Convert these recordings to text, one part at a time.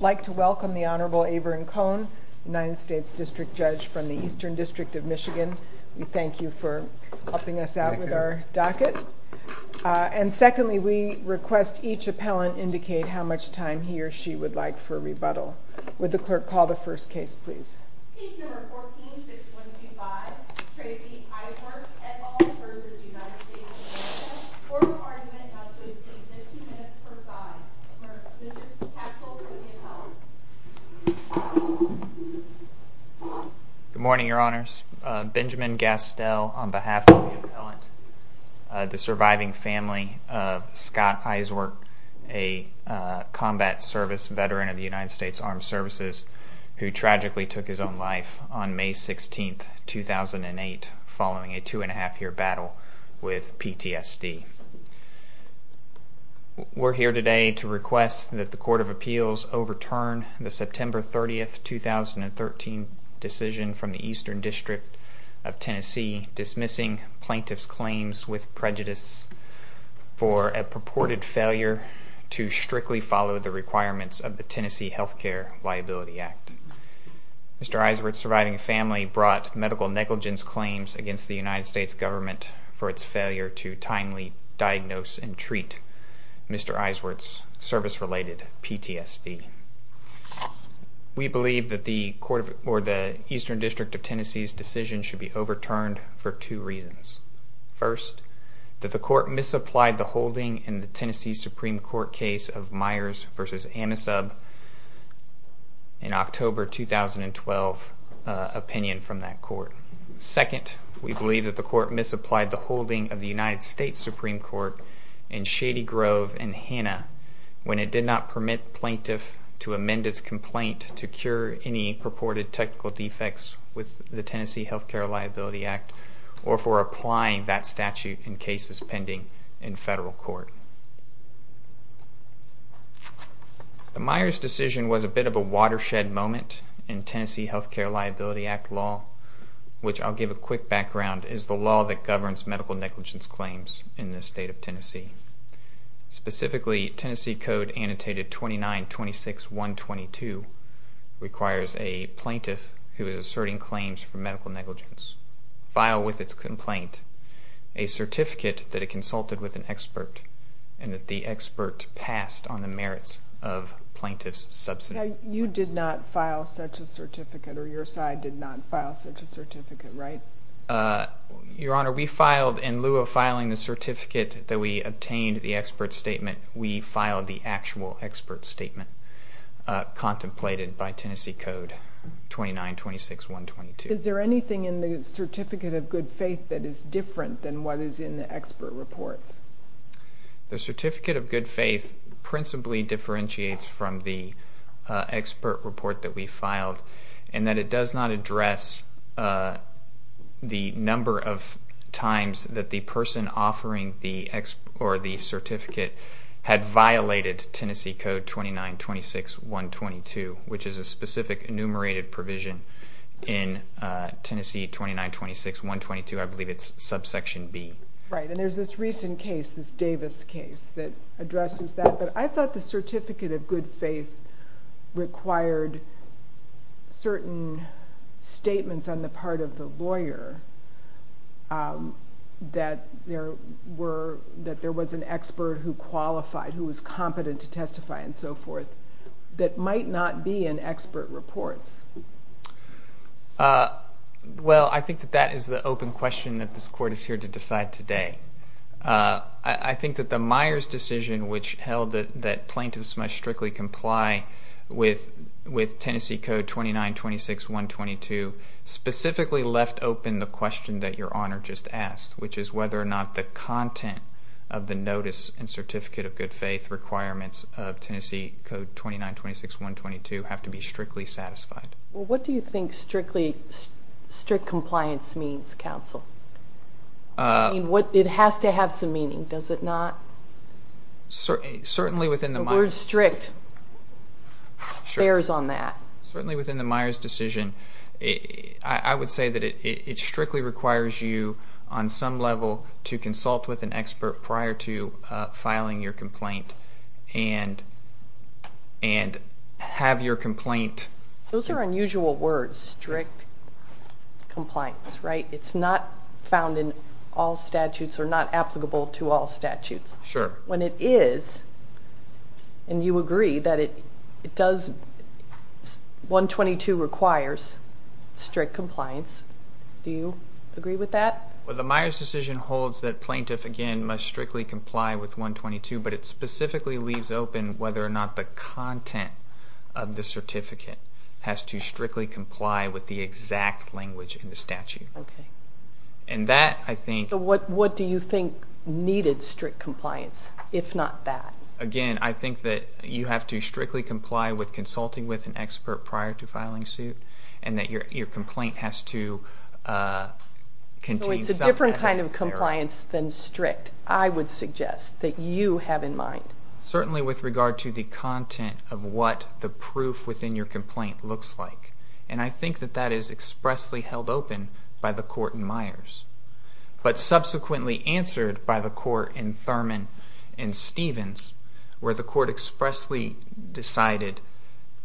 District Judge from the Eastern District of Michigan. We thank you for helping us out with our docket. And secondly, we request each appellant indicate how much time he or she would like for rebuttal. Would the clerk call the first case, please? Case number 14-6125, Tracy Eiswert, et al. v. United States District Judge. Order of argument is 15 minutes per side. Good morning, Your Honors. Benjamin Gastel on behalf of the appellant, the surviving family of Scott Eiswert, a combat service veteran of the United States Armed Services who tragically took his own life on May 16, 2008, following a two and a half year battle with PTSD. We're here today to request that the Court of Appeals overturn the September 30, 2013, decision from the Eastern District of Tennessee dismissing plaintiff's claims with prejudice for a purported failure to strictly follow the requirements of the Tennessee Healthcare Liability Act. Mr. Eiswert's surviving family brought medical negligence claims against the United States government for its failure to timely diagnose and treat Mr. Eiswert's service-related PTSD. We believe that the Eastern District of Tennessee's decision should be overturned for two reasons. First, that the court misapplied the holding in the Tennessee Supreme Court case of Myers v. Anisub in October 2012 opinion from that court. Second, we believe that the court misapplied the holding of the United States Supreme Court in Shady Grove v. Hanna when it did not permit plaintiff to amend its complaint to cure any purported technical defects with the Tennessee Healthcare Liability Act or for applying that statute in cases pending in federal court. The Myers decision was a bit of a watershed moment in Tennessee Healthcare Liability Act law, which I'll give a quick background is the law that governs medical negligence claims in the state of Tennessee. Specifically, Tennessee Code Annotated 2926.122 requires a plaintiff who is asserting claims for medical negligence file with its complaint a certificate that it consulted with an expert and that the expert passed on the merits of plaintiff's subsidy. You did not file such a certificate or your side did not file such a certificate, right? Your Honor, we filed in lieu of filing the certificate that we obtained the expert statement, we filed the actual expert statement contemplated by Tennessee Code 2926.122. Is there anything in the certificate of good faith that is different than what is in the expert report? The certificate of good faith principally differentiates from the expert report that we filed and that it does not address the number of times that the person offering the expert or the certificate had violated Tennessee Code 2926.122, which is a specific enumerated provision in Tennessee 2926.122, I believe it's subsection B. Right, and there's this recent case, this Davis case that addresses that, but I thought the certificate of good faith required certain statements on the part of the lawyer that there was an expert who qualified, who was competent to testify and so forth, that might not be in expert reports. Well, I think that that is the open question that this Court is here to decide today. I think that the Myers decision, which held that plaintiffs must strictly comply with Tennessee Code 2926.122, specifically left open the question that Your Honor just asked, which is whether or not the content of the notice and certificate of good faith requirements of Tennessee Code 2926.122 have to be strictly satisfied. Well, what do you think strict compliance means, counsel? It has to have some meaning, does it not? Certainly within the Myers decision, I would say that it strictly requires you on some level to consult with an expert prior to filing your complaint and have your complaint... Those are unusual words, strict compliance, right? It's not found in all statutes or not applicable to all statutes. Sure. When it is, and you agree that it does, 122 requires strict compliance, do you agree with that? Well, the Myers decision holds that plaintiff, again, must strictly comply with 122, but it specifically leaves open whether or not the content of the certificate has to strictly comply with the exact language in the statute. Okay. And that, I think... So what do you think needed strict compliance, if not that? Again, I think that you have to strictly comply with consulting with an expert prior to filing suit and that your complaint has to contain some evidence there. So it's a different kind of compliance than strict, I would suggest, that you have in mind. Certainly with regard to the content of what the proof within your complaint looks like. And I think that that is expressly held open by the court in Myers. But subsequently answered by the court in Thurman and Stevens, where the court expressly decided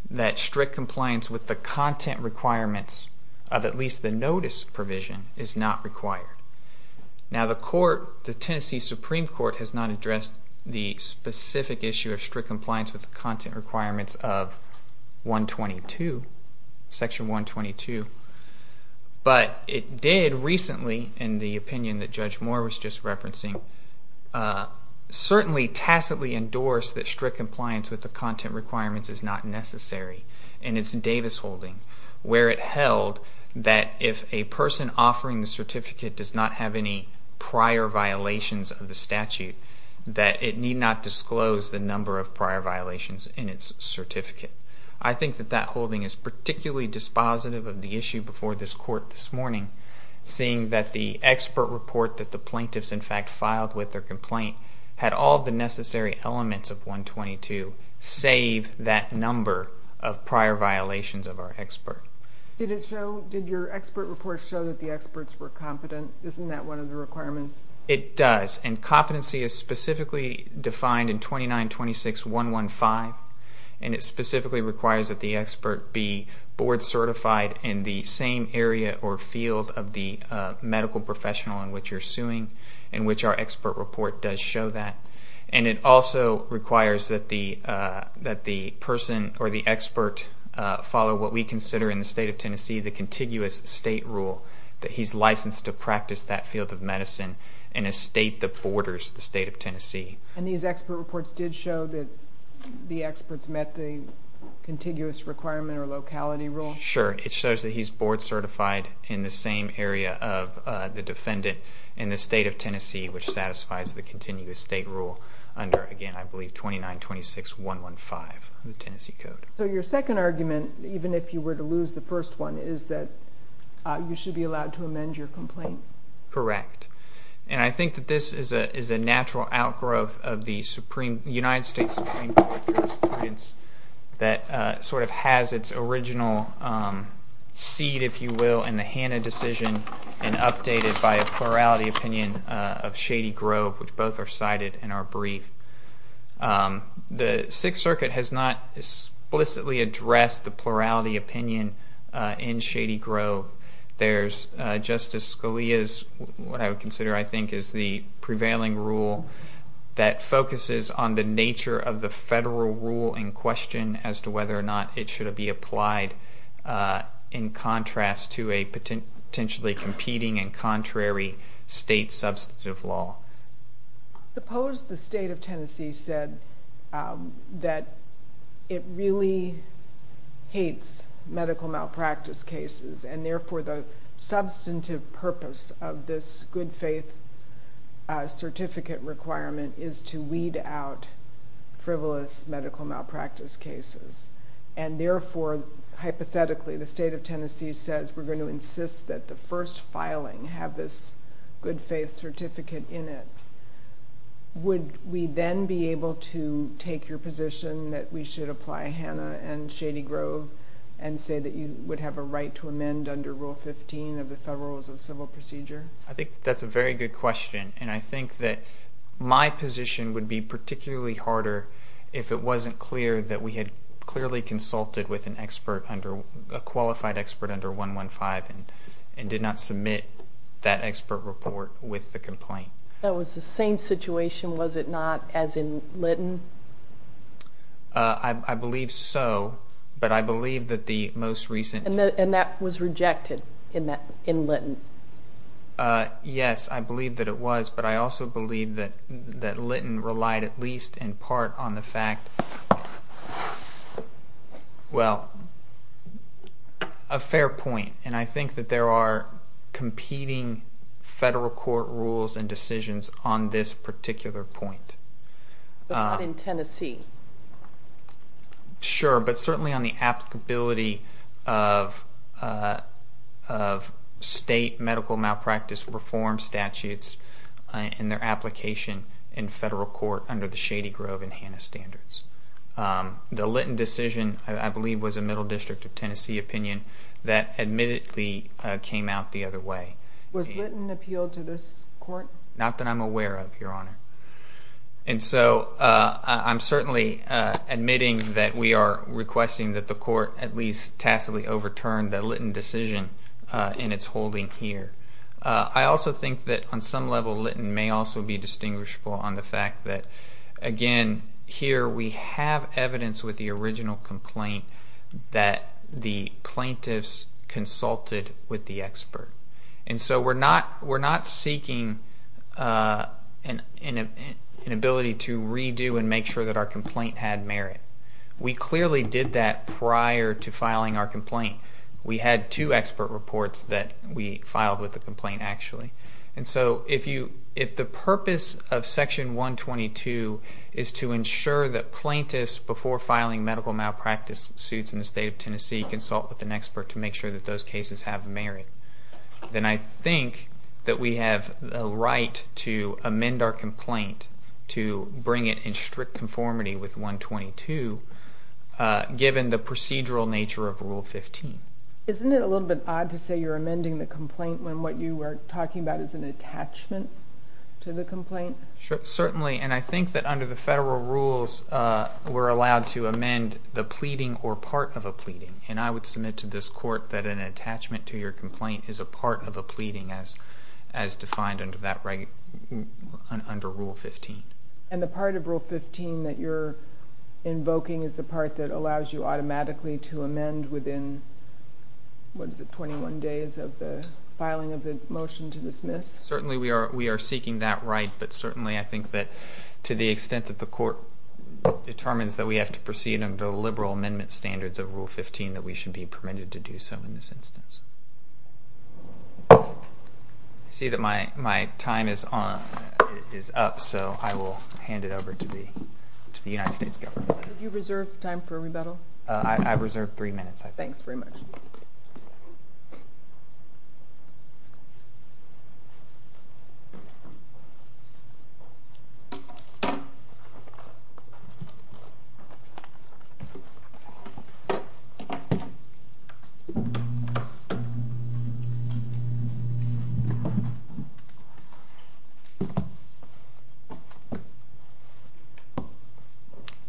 that strict compliance with the content requirements of at least the notice provision is not required. Now the court, the Tennessee Supreme Court, has not addressed the specific issue of strict compliance with the content requirements of section 122. But it did recently, in the opinion that Judge Moore was just referencing, certainly tacitly endorse that strict compliance with the content requirements is not necessary. In its Davis holding, where it held that if a person offering the certificate does not have any prior violations of the statute, that it need not disclose the number of prior violations in its certificate. I think that that holding is particularly dispositive of the issue before this court this morning, seeing that the expert report that the plaintiffs in fact filed with their complaint had all the necessary elements of 122, save that number of prior violations of our expert. Did your expert report show that the experts were competent? Isn't that one of the requirements? It does, and competency is specifically defined in 2926.115. And it specifically requires that the expert be board certified in the same area or field of the medical professional in which you're suing, in which our expert report does show that. And it also requires that the person or the expert follow what we consider in the state of Tennessee the contiguous state rule, that he's licensed to practice that field of medicine in a state that borders the state of Tennessee. And these expert reports did show that the experts met the contiguous requirement or locality rule? Sure, it shows that he's board certified in the same area of the defendant in the state of Tennessee, which satisfies the contiguous state rule under, again, I believe 2926.115, the Tennessee Code. So your second argument, even if you were to lose the first one, is that you should be allowed to amend your complaint? Correct. And I think that this is a natural outgrowth of the United States Supreme Court experience that sort of has its original seed, if you will, in the Hanna decision and updated by a plurality opinion of Shady Grove, which both are cited in our brief. The Sixth Circuit has not explicitly addressed the plurality opinion in Shady Grove. There's Justice Scalia's, what I would consider, I think, is the prevailing rule that focuses on the nature of the federal rule in question as to whether or not it should be applied in contrast to a potentially competing and contrary state substantive law. Suppose the state of Tennessee said that it really hates medical malpractice cases and therefore the substantive purpose of this good faith certificate requirement is to weed out frivolous medical malpractice cases. And therefore, hypothetically, the state of Tennessee says we're going to insist that the first filing have this good faith certificate in it. Would we then be able to take your position that we should apply Hanna and Shady Grove and say that you would have a right to amend under Rule 15 of the Federal Rules of Civil Procedure? I think that's a very good question and I think that my position would be particularly harder if it wasn't clear that we had clearly consulted with a qualified expert under 115 and did not submit that expert report with the complaint. That was the same situation, was it not, as in Lytton? I believe so, but I believe that the most recent... And that was rejected in Lytton. Yes, I believe that it was, but I also believe that Lytton relied at least in part on the fact... Well, a fair point, and I think that there are competing federal court rules and decisions on this particular point. But not in Tennessee. Sure, but certainly on the applicability of state medical malpractice reform statutes in their application in federal court under the Shady Grove and Hanna standards. The Lytton decision, I believe, was a Middle District of Tennessee opinion that admittedly came out the other way. Was Lytton appealed to this court? Not that I'm aware of, Your Honor. And so I'm certainly admitting that we are requesting that the court at least tacitly overturn the Lytton decision in its holding here. I also think that on some level Lytton may also be distinguishable on the fact that, again, here we have evidence with the original complaint that the plaintiffs consulted with the expert. And so we're not seeking an ability to redo and make sure that our complaint had merit. We clearly did that prior to filing our complaint. We had two expert reports that we filed with the complaint, actually. And so if the purpose of Section 122 is to ensure that plaintiffs before filing medical malpractice suits in the state of Tennessee consult with an expert to make sure that those cases have merit, then I think that we have a right to amend our complaint to bring it in strict conformity with 122 given the procedural nature of Rule 15. Isn't it a little bit odd to say you're amending the complaint when what you were talking about is an attachment to the complaint? Certainly, and I think that under the federal rules we're allowed to amend the pleading or part of a pleading. And I would submit to this court that an attachment to your complaint is a part of a pleading as defined under Rule 15. And the part of Rule 15 that you're invoking is the part that allows you automatically to amend within, what is it, 21 days of the filing of the motion to dismiss? Certainly we are seeking that right, but certainly I think that to the extent that the court determines that we have to proceed under the liberal amendment standards of Rule 15, that we should be permitted to do so in this instance. I see that my time is up, so I will hand it over to the United States government. Do you reserve time for rebuttal? I reserve three minutes, I think. Thanks very much.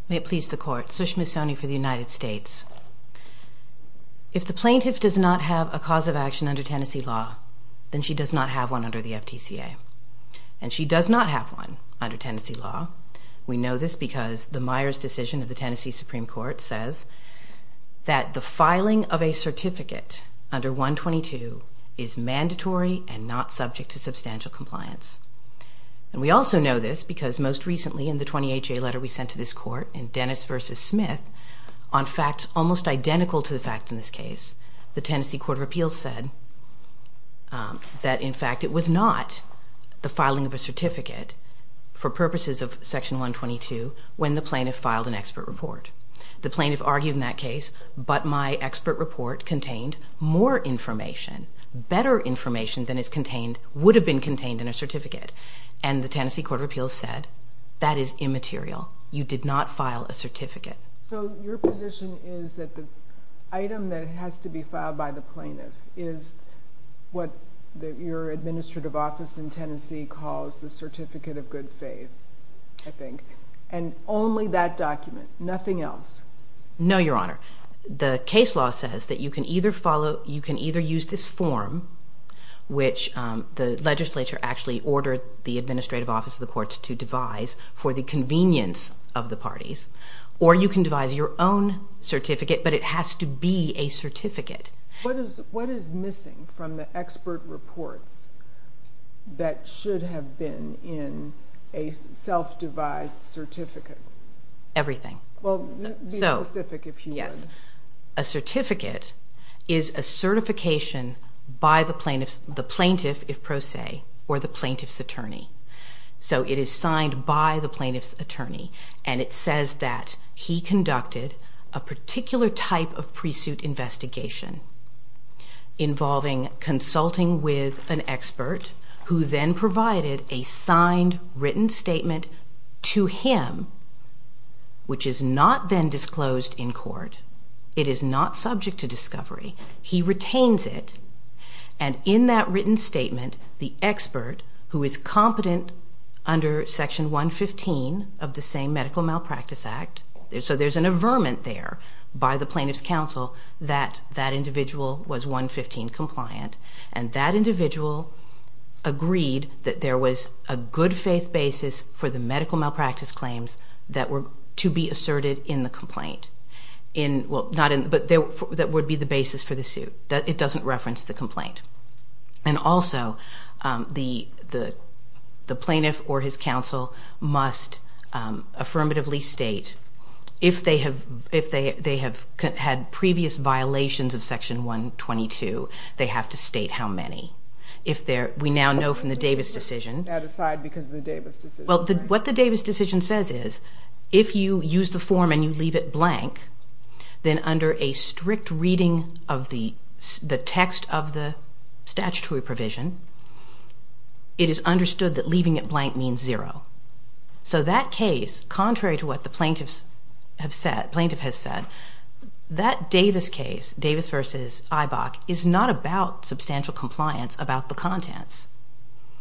May it please the court. Sushma Soni for the United States. If the plaintiff does not have a cause of action under Tennessee law, then she does not have one under the FTCA. And she does not have one under Tennessee law. We know this because the Myers decision of the Tennessee Supreme Court says that the filing of a certificate under 122 is mandatory and not subject to substantial compliance. And we also know this because most recently in the 28-J letter we sent to this court in Dennis v. Smith, on facts almost identical to the facts in this case, the Tennessee Court of Appeals said that in fact it was not the filing of a certificate for purposes of Section 122 when the plaintiff filed an expert report. The plaintiff argued in that case, but my expert report contained more information, better information than would have been contained in a certificate. And the Tennessee Court of Appeals said that is immaterial. You did not file a certificate. So your position is that the item that has to be filed by the plaintiff is what your administrative office in Tennessee calls the certificate of good faith, I think. And only that document. Nothing else. No, Your Honor. The case law says that you can either use this form, which the legislature actually ordered the administrative office of the courts to devise for the convenience of the parties, or you can devise your own certificate, but it has to be a certificate. What is missing from the expert reports that should have been in a self-devised certificate? Everything. Well, be specific if you want. Yes. A certificate is a certification by the plaintiff, if pro se, or the plaintiff's attorney. So it is signed by the plaintiff's attorney, and it says that he conducted a particular type of pre-suit investigation involving consulting with an expert, who then provided a signed written statement to him, which is not then disclosed in court. It is not subject to discovery. He retains it, and in that written statement, the expert, who is competent under Section 115 of the same Medical Malpractice Act, So there is an averment there by the plaintiff's counsel that that individual was 115 compliant, and that individual agreed that there was a good faith basis for the medical malpractice claims that were to be asserted in the complaint, but that would be the basis for the suit. It doesn't reference the complaint. And also, the plaintiff or his counsel must affirmatively state, if they have had previous violations of Section 122, they have to state how many. We now know from the Davis decision. That aside because of the Davis decision. Well, what the Davis decision says is, if you use the form and you leave it blank, then under a strict reading of the text of the statutory provision, it is understood that leaving it blank means zero. So that case, contrary to what the plaintiff has said, that Davis case, Davis v. Eibach, is not about substantial compliance about the contents.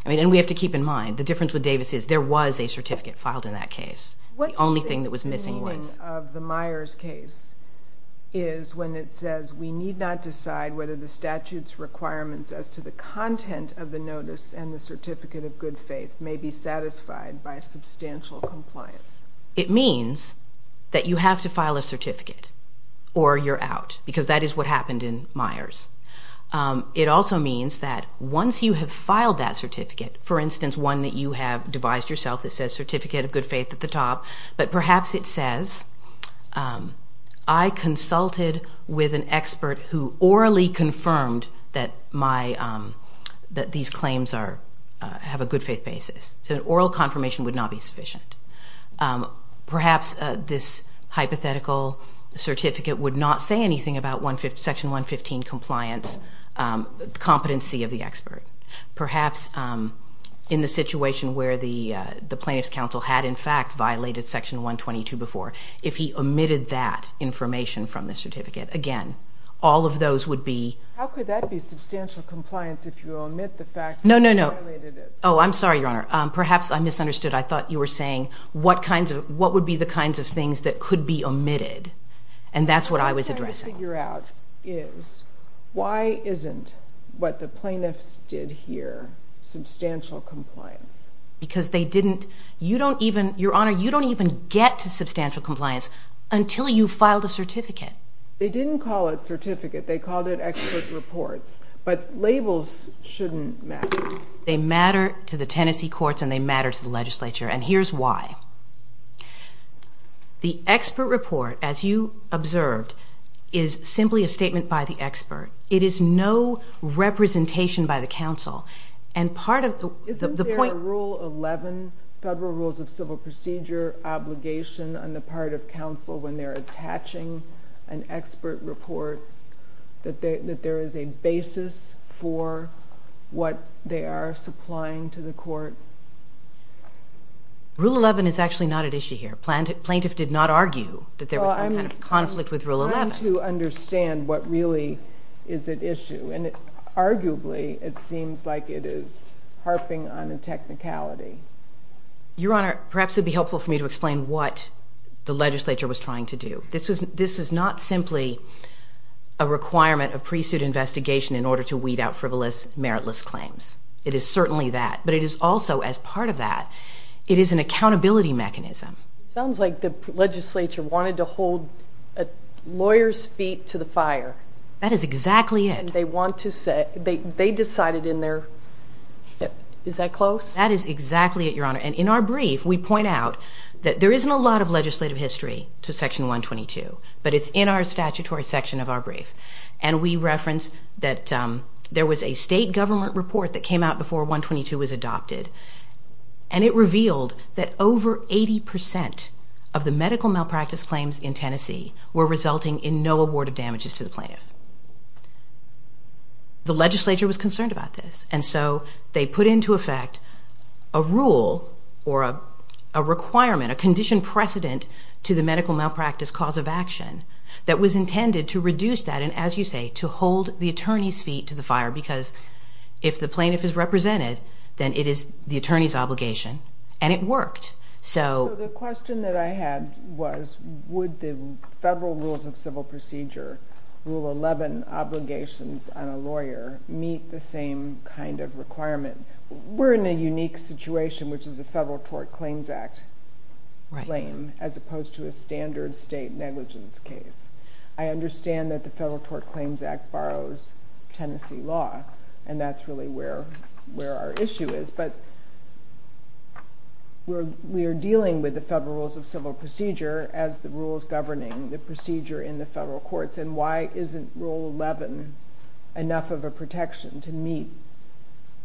I mean, and we have to keep in mind, the difference with Davis is there was a certificate filed in that case. The only thing that was missing was. What is the meaning of the Myers case is when it says, we need not decide whether the statute's requirements as to the content of the notice and the certificate of good faith may be satisfied by substantial compliance. It means that you have to file a certificate or you're out, because that is what happened in Myers. It also means that once you have filed that certificate, for instance, one that you have devised yourself that says certificate of good faith at the top, but perhaps it says, I consulted with an expert who orally confirmed that these claims have a good faith basis. So an oral confirmation would not be sufficient. Perhaps this hypothetical certificate would not say anything about Section 115 compliance competency of the expert. Perhaps in the situation where the plaintiff's counsel had in fact violated Section 122 before, if he omitted that information from the certificate, again, all of those would be. How could that be substantial compliance if you omit the fact that you violated it? No, no, no. Oh, I'm sorry, Your Honor. Perhaps I misunderstood. I thought you were saying what would be the kinds of things that could be omitted, and that's what I was addressing. What I'm trying to figure out is why isn't what the plaintiffs did here substantial compliance? Because they didn't. You don't even, Your Honor, you don't even get to substantial compliance until you filed a certificate. They didn't call it certificate. They called it expert reports, but labels shouldn't matter. They matter to the Tennessee courts, and they matter to the legislature, and here's why. The expert report, as you observed, is simply a statement by the expert. It is no representation by the counsel, and part of the point- Isn't there Rule 11, Federal Rules of Civil Procedure, obligation on the part of counsel when they're attaching an expert report that there is a basis for what they are supplying to the court? Rule 11 is actually not at issue here. Plaintiff did not argue that there was some kind of conflict with Rule 11. I'm trying to understand what really is at issue, and arguably it seems like it is harping on a technicality. Your Honor, perhaps it would be helpful for me to explain what the legislature was trying to do. This is not simply a requirement of pre-suit investigation in order to weed out frivolous, meritless claims. It is certainly that, but it is also, as part of that, it is an accountability mechanism. It sounds like the legislature wanted to hold a lawyer's feet to the fire. That is exactly it. And they want to say, they decided in their, is that close? That is exactly it, Your Honor. And in our brief, we point out that there isn't a lot of legislative history to Section 122, but it's in our statutory section of our brief. And we reference that there was a state government report that came out before 122 was adopted, and it revealed that over 80% of the medical malpractice claims in Tennessee were resulting in no award of damages to the plaintiff. The legislature was concerned about this. And so they put into effect a rule or a requirement, a condition precedent, to the medical malpractice cause of action that was intended to reduce that and, as you say, to hold the attorney's feet to the fire. Because if the plaintiff is represented, then it is the attorney's obligation. And it worked. So the question that I had was, would the federal rules of civil procedure, Rule 11 obligations on a lawyer, meet the same kind of requirement? We're in a unique situation, which is a Federal Tort Claims Act claim as opposed to a standard state negligence case. I understand that the Federal Tort Claims Act borrows Tennessee law, and that's really where our issue is. But we are dealing with the Federal Rules of Civil Procedure as the rules governing the procedure in the federal courts. And why isn't Rule 11 enough of a protection to meet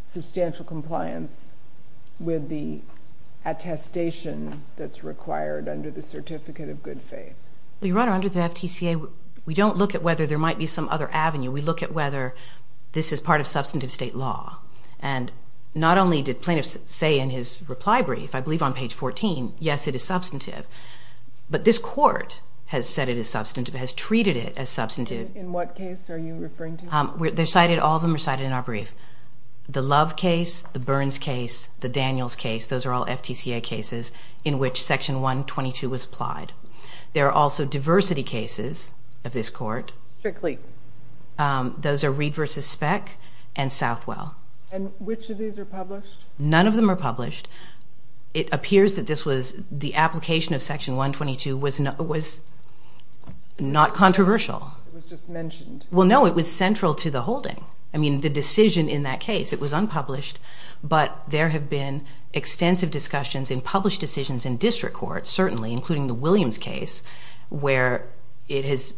substantial compliance with the attestation that's required under the Certificate of Good Faith? Your Honor, under the FTCA, we don't look at whether there might be some other avenue. We look at whether this is part of substantive state law. And not only did plaintiffs say in his reply brief, I believe on page 14, yes, it is substantive, but this court has said it is substantive, has treated it as substantive. In what case are you referring to? All of them are cited in our brief. The Love case, the Burns case, the Daniels case, those are all FTCA cases in which Section 122 was applied. There are also diversity cases of this court. Strictly? Those are Reed v. Speck and Southwell. And which of these are published? None of them are published. It appears that the application of Section 122 was not controversial. It was just mentioned. Well, no, it was central to the holding. I mean, the decision in that case, it was unpublished, but there have been extensive discussions in published decisions in district courts, certainly, including the Williams case, where it has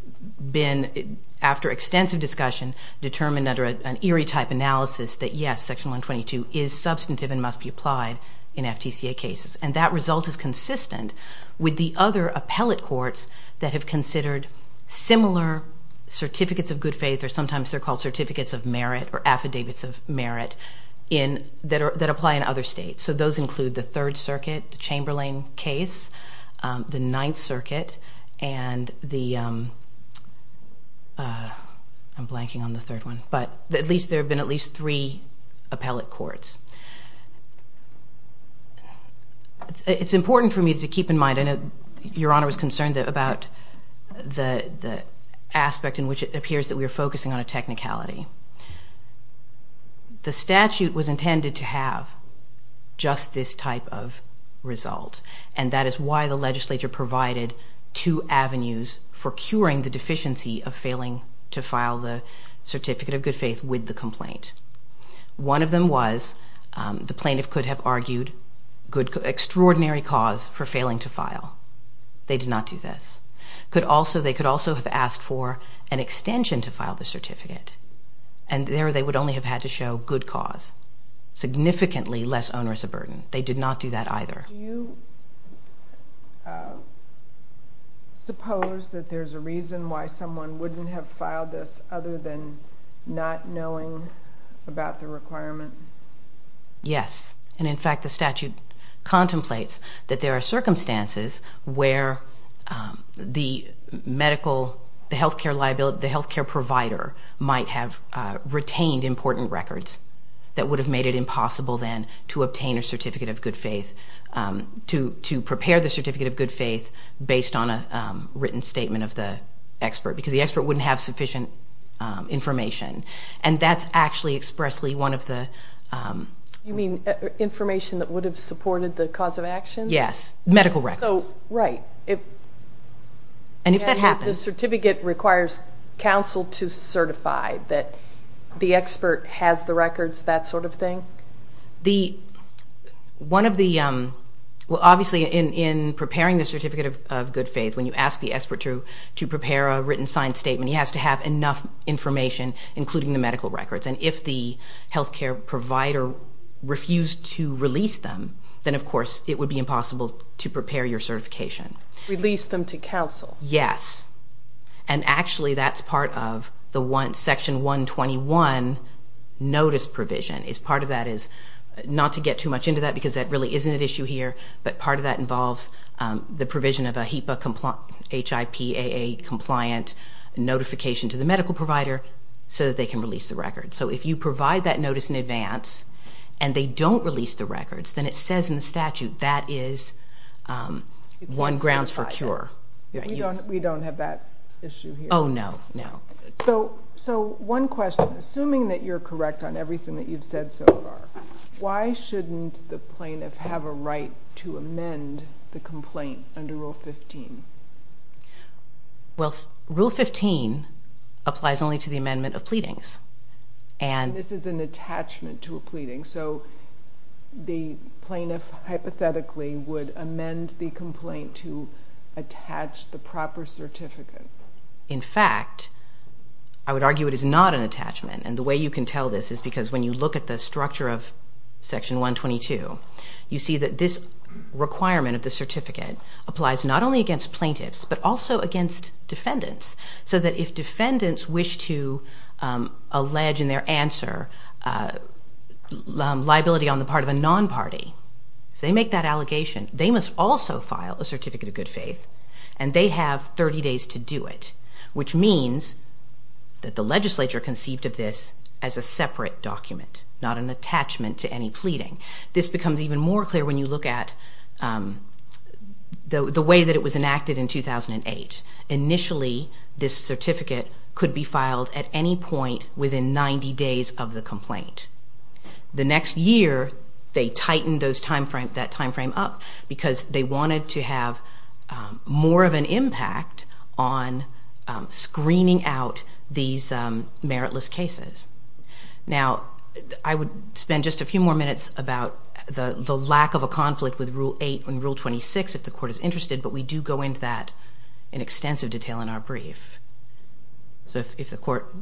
been, after extensive discussion, determined under an Erie-type analysis that, yes, Section 122 is substantive and must be applied in FTCA cases. And that result is consistent with the other appellate courts that have considered similar certificates of good faith, or sometimes they're called certificates of merit or affidavits of merit, that apply in other states. So those include the Third Circuit, the Chamberlain case, the Ninth Circuit, and the, I'm blanking on the third one, but at least there have been at least three appellate courts. It's important for me to keep in mind, I know Your Honor was concerned about the aspect in which it appears that we are focusing on a technicality. The statute was intended to have just this type of result, and that is why the legislature provided two avenues for curing the deficiency of failing to file the certificate of good faith with the complaint. One of them was the plaintiff could have argued extraordinary cause for failing to file. They did not do this. They could also have asked for an extension to file the certificate, and there they would only have had to show good cause, significantly less onerous a burden. They did not do that either. Do you suppose that there's a reason why someone wouldn't have filed this other than not knowing about the requirement? Yes. And, in fact, the statute contemplates that there are circumstances where the medical, the health care liability, the health care provider might have retained important records that would have made it impossible then to obtain a certificate of good faith, to prepare the certificate of good faith based on a written statement of the expert, because the expert wouldn't have sufficient information, and that's actually expressly one of the... You mean information that would have supported the cause of action? Yes, medical records. Right. And if that happens... The certificate requires counsel to certify that the expert has the records, that sort of thing? One of the... Well, obviously, in preparing the certificate of good faith, when you ask the expert to prepare a written signed statement, he has to have enough information, including the medical records, and if the health care provider refused to release them, then, of course, it would be impossible to prepare your certification. Release them to counsel? Yes. And, actually, that's part of the Section 121 notice provision, is part of that is not to get too much into that, because that really isn't an issue here, but part of that involves the provision of a HIPAA compliant notification to the medical provider so that they can release the records. So if you provide that notice in advance and they don't release the records, then it says in the statute that is one grounds for cure. We don't have that issue here. Oh, no, no. So one question. Assuming that you're correct on everything that you've said so far, why shouldn't the plaintiff have a right to amend the complaint under Rule 15? Well, Rule 15 applies only to the amendment of pleadings. And this is an attachment to a pleading. So the plaintiff hypothetically would amend the complaint to attach the proper certificate. In fact, I would argue it is not an attachment. And the way you can tell this is because when you look at the structure of Section 122, you see that this requirement of the certificate applies not only against plaintiffs but also against defendants, so that if defendants wish to allege in their answer liability on the part of a non-party, if they make that allegation, they must also file a certificate of good faith, and they have 30 days to do it, which means that the legislature conceived of this as a separate document, not an attachment to any pleading. This becomes even more clear when you look at the way that it was enacted in 2008. Initially, this certificate could be filed at any point within 90 days of the complaint. The next year, they tightened that time frame up because they wanted to have more of an impact on screening out these meritless cases. Now, I would spend just a few more minutes about the lack of a conflict with Rule 8 and Rule 26, if the Court is interested, but we do go into that in extensive detail in our brief. So if the Court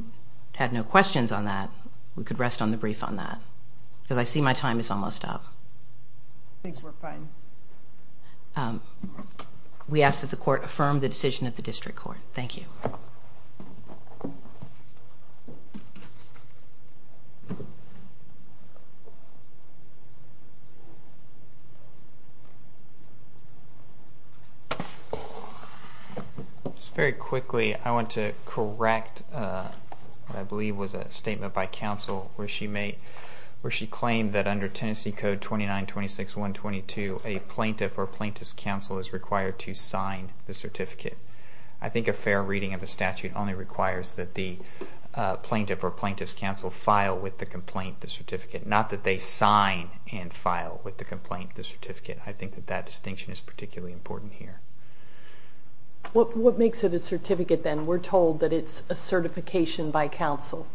had no questions on that, we could rest on the brief on that, because I see my time is almost up. I think we're fine. We ask that the Court affirm the decision of the District Court. Thank you. Just very quickly, I want to correct what I believe was a statement by counsel where she claimed that under Tennessee Code 2926.122, a plaintiff or plaintiff's counsel is required to sign the certificate. I think a fair reading of the statute only requires that the plaintiff or plaintiff's counsel file with the complaint the certificate, not that they sign and file with the complaint the certificate. I think that that distinction is particularly important here. What makes it a certificate then? We're told that it's a certification by counsel.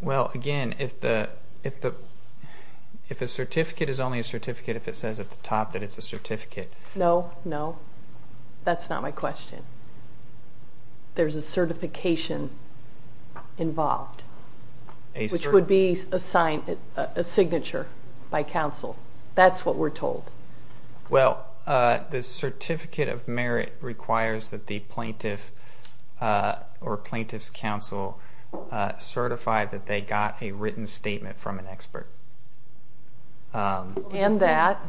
Well, again, if a certificate is only a certificate if it says at the top that it's a certificate. No, no, that's not my question. There's a certification involved, which would be a signature by counsel. That's what we're told. Well, the certificate of merit requires that the plaintiff or plaintiff's counsel certify that they got a written statement from an expert. And that.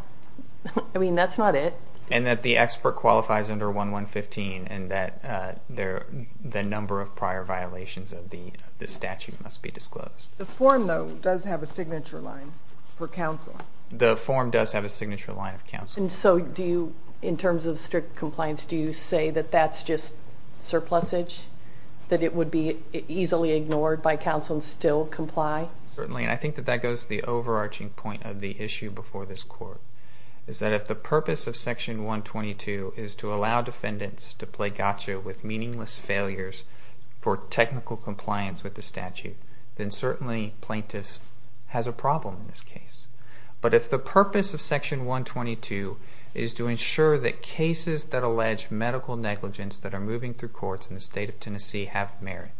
I mean, that's not it. And that the expert qualifies under 1115 and that the number of prior violations of the statute must be disclosed. The form, though, does have a signature line for counsel. The form does have a signature line of counsel. And so do you, in terms of strict compliance, do you say that that's just surplusage, that it would be easily ignored by counsel and still comply? Certainly, and I think that that goes to the overarching point of the issue before this court, is that if the purpose of Section 122 is to allow defendants to play gotcha with meaningless failures for technical compliance with the statute, then certainly plaintiff has a problem in this case. But if the purpose of Section 122 is to ensure that cases that allege medical negligence that are moving through courts in the state of Tennessee have merit,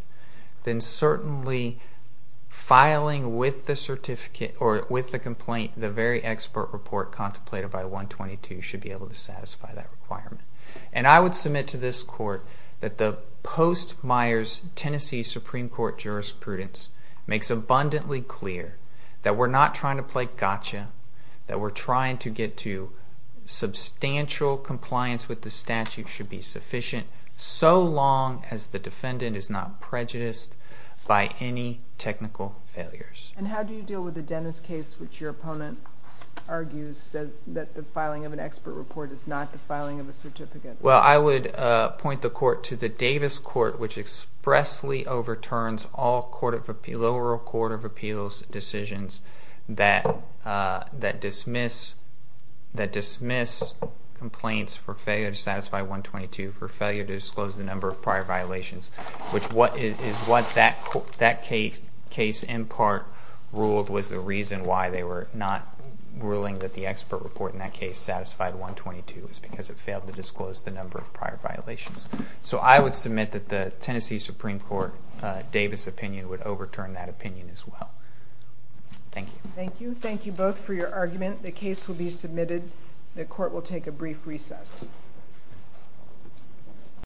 then certainly filing with the complaint the very expert report contemplated by 122 should be able to satisfy that requirement. And I would submit to this court that the post-Meyers Tennessee Supreme Court jurisprudence makes abundantly clear that we're not trying to play gotcha, that we're trying to get to substantial compliance with the statute should be sufficient so long as the defendant is not prejudiced by any technical failures. And how do you deal with the Dennis case, which your opponent argues that the filing of an expert report is not the filing of a certificate? Well, I would point the court to the Davis court, which expressly overturns all lower court of appeals decisions that dismiss complaints for failure to satisfy 122 for failure to disclose the number of prior violations, which is what that case in part ruled was the reason why they were not ruling that the expert report in that case satisfied 122 was because it failed to disclose the number of prior violations. So I would submit that the Tennessee Supreme Court Davis opinion would overturn that opinion as well. Thank you. Thank you. Thank you both for your argument. The case will be submitted. The court will take a brief recess.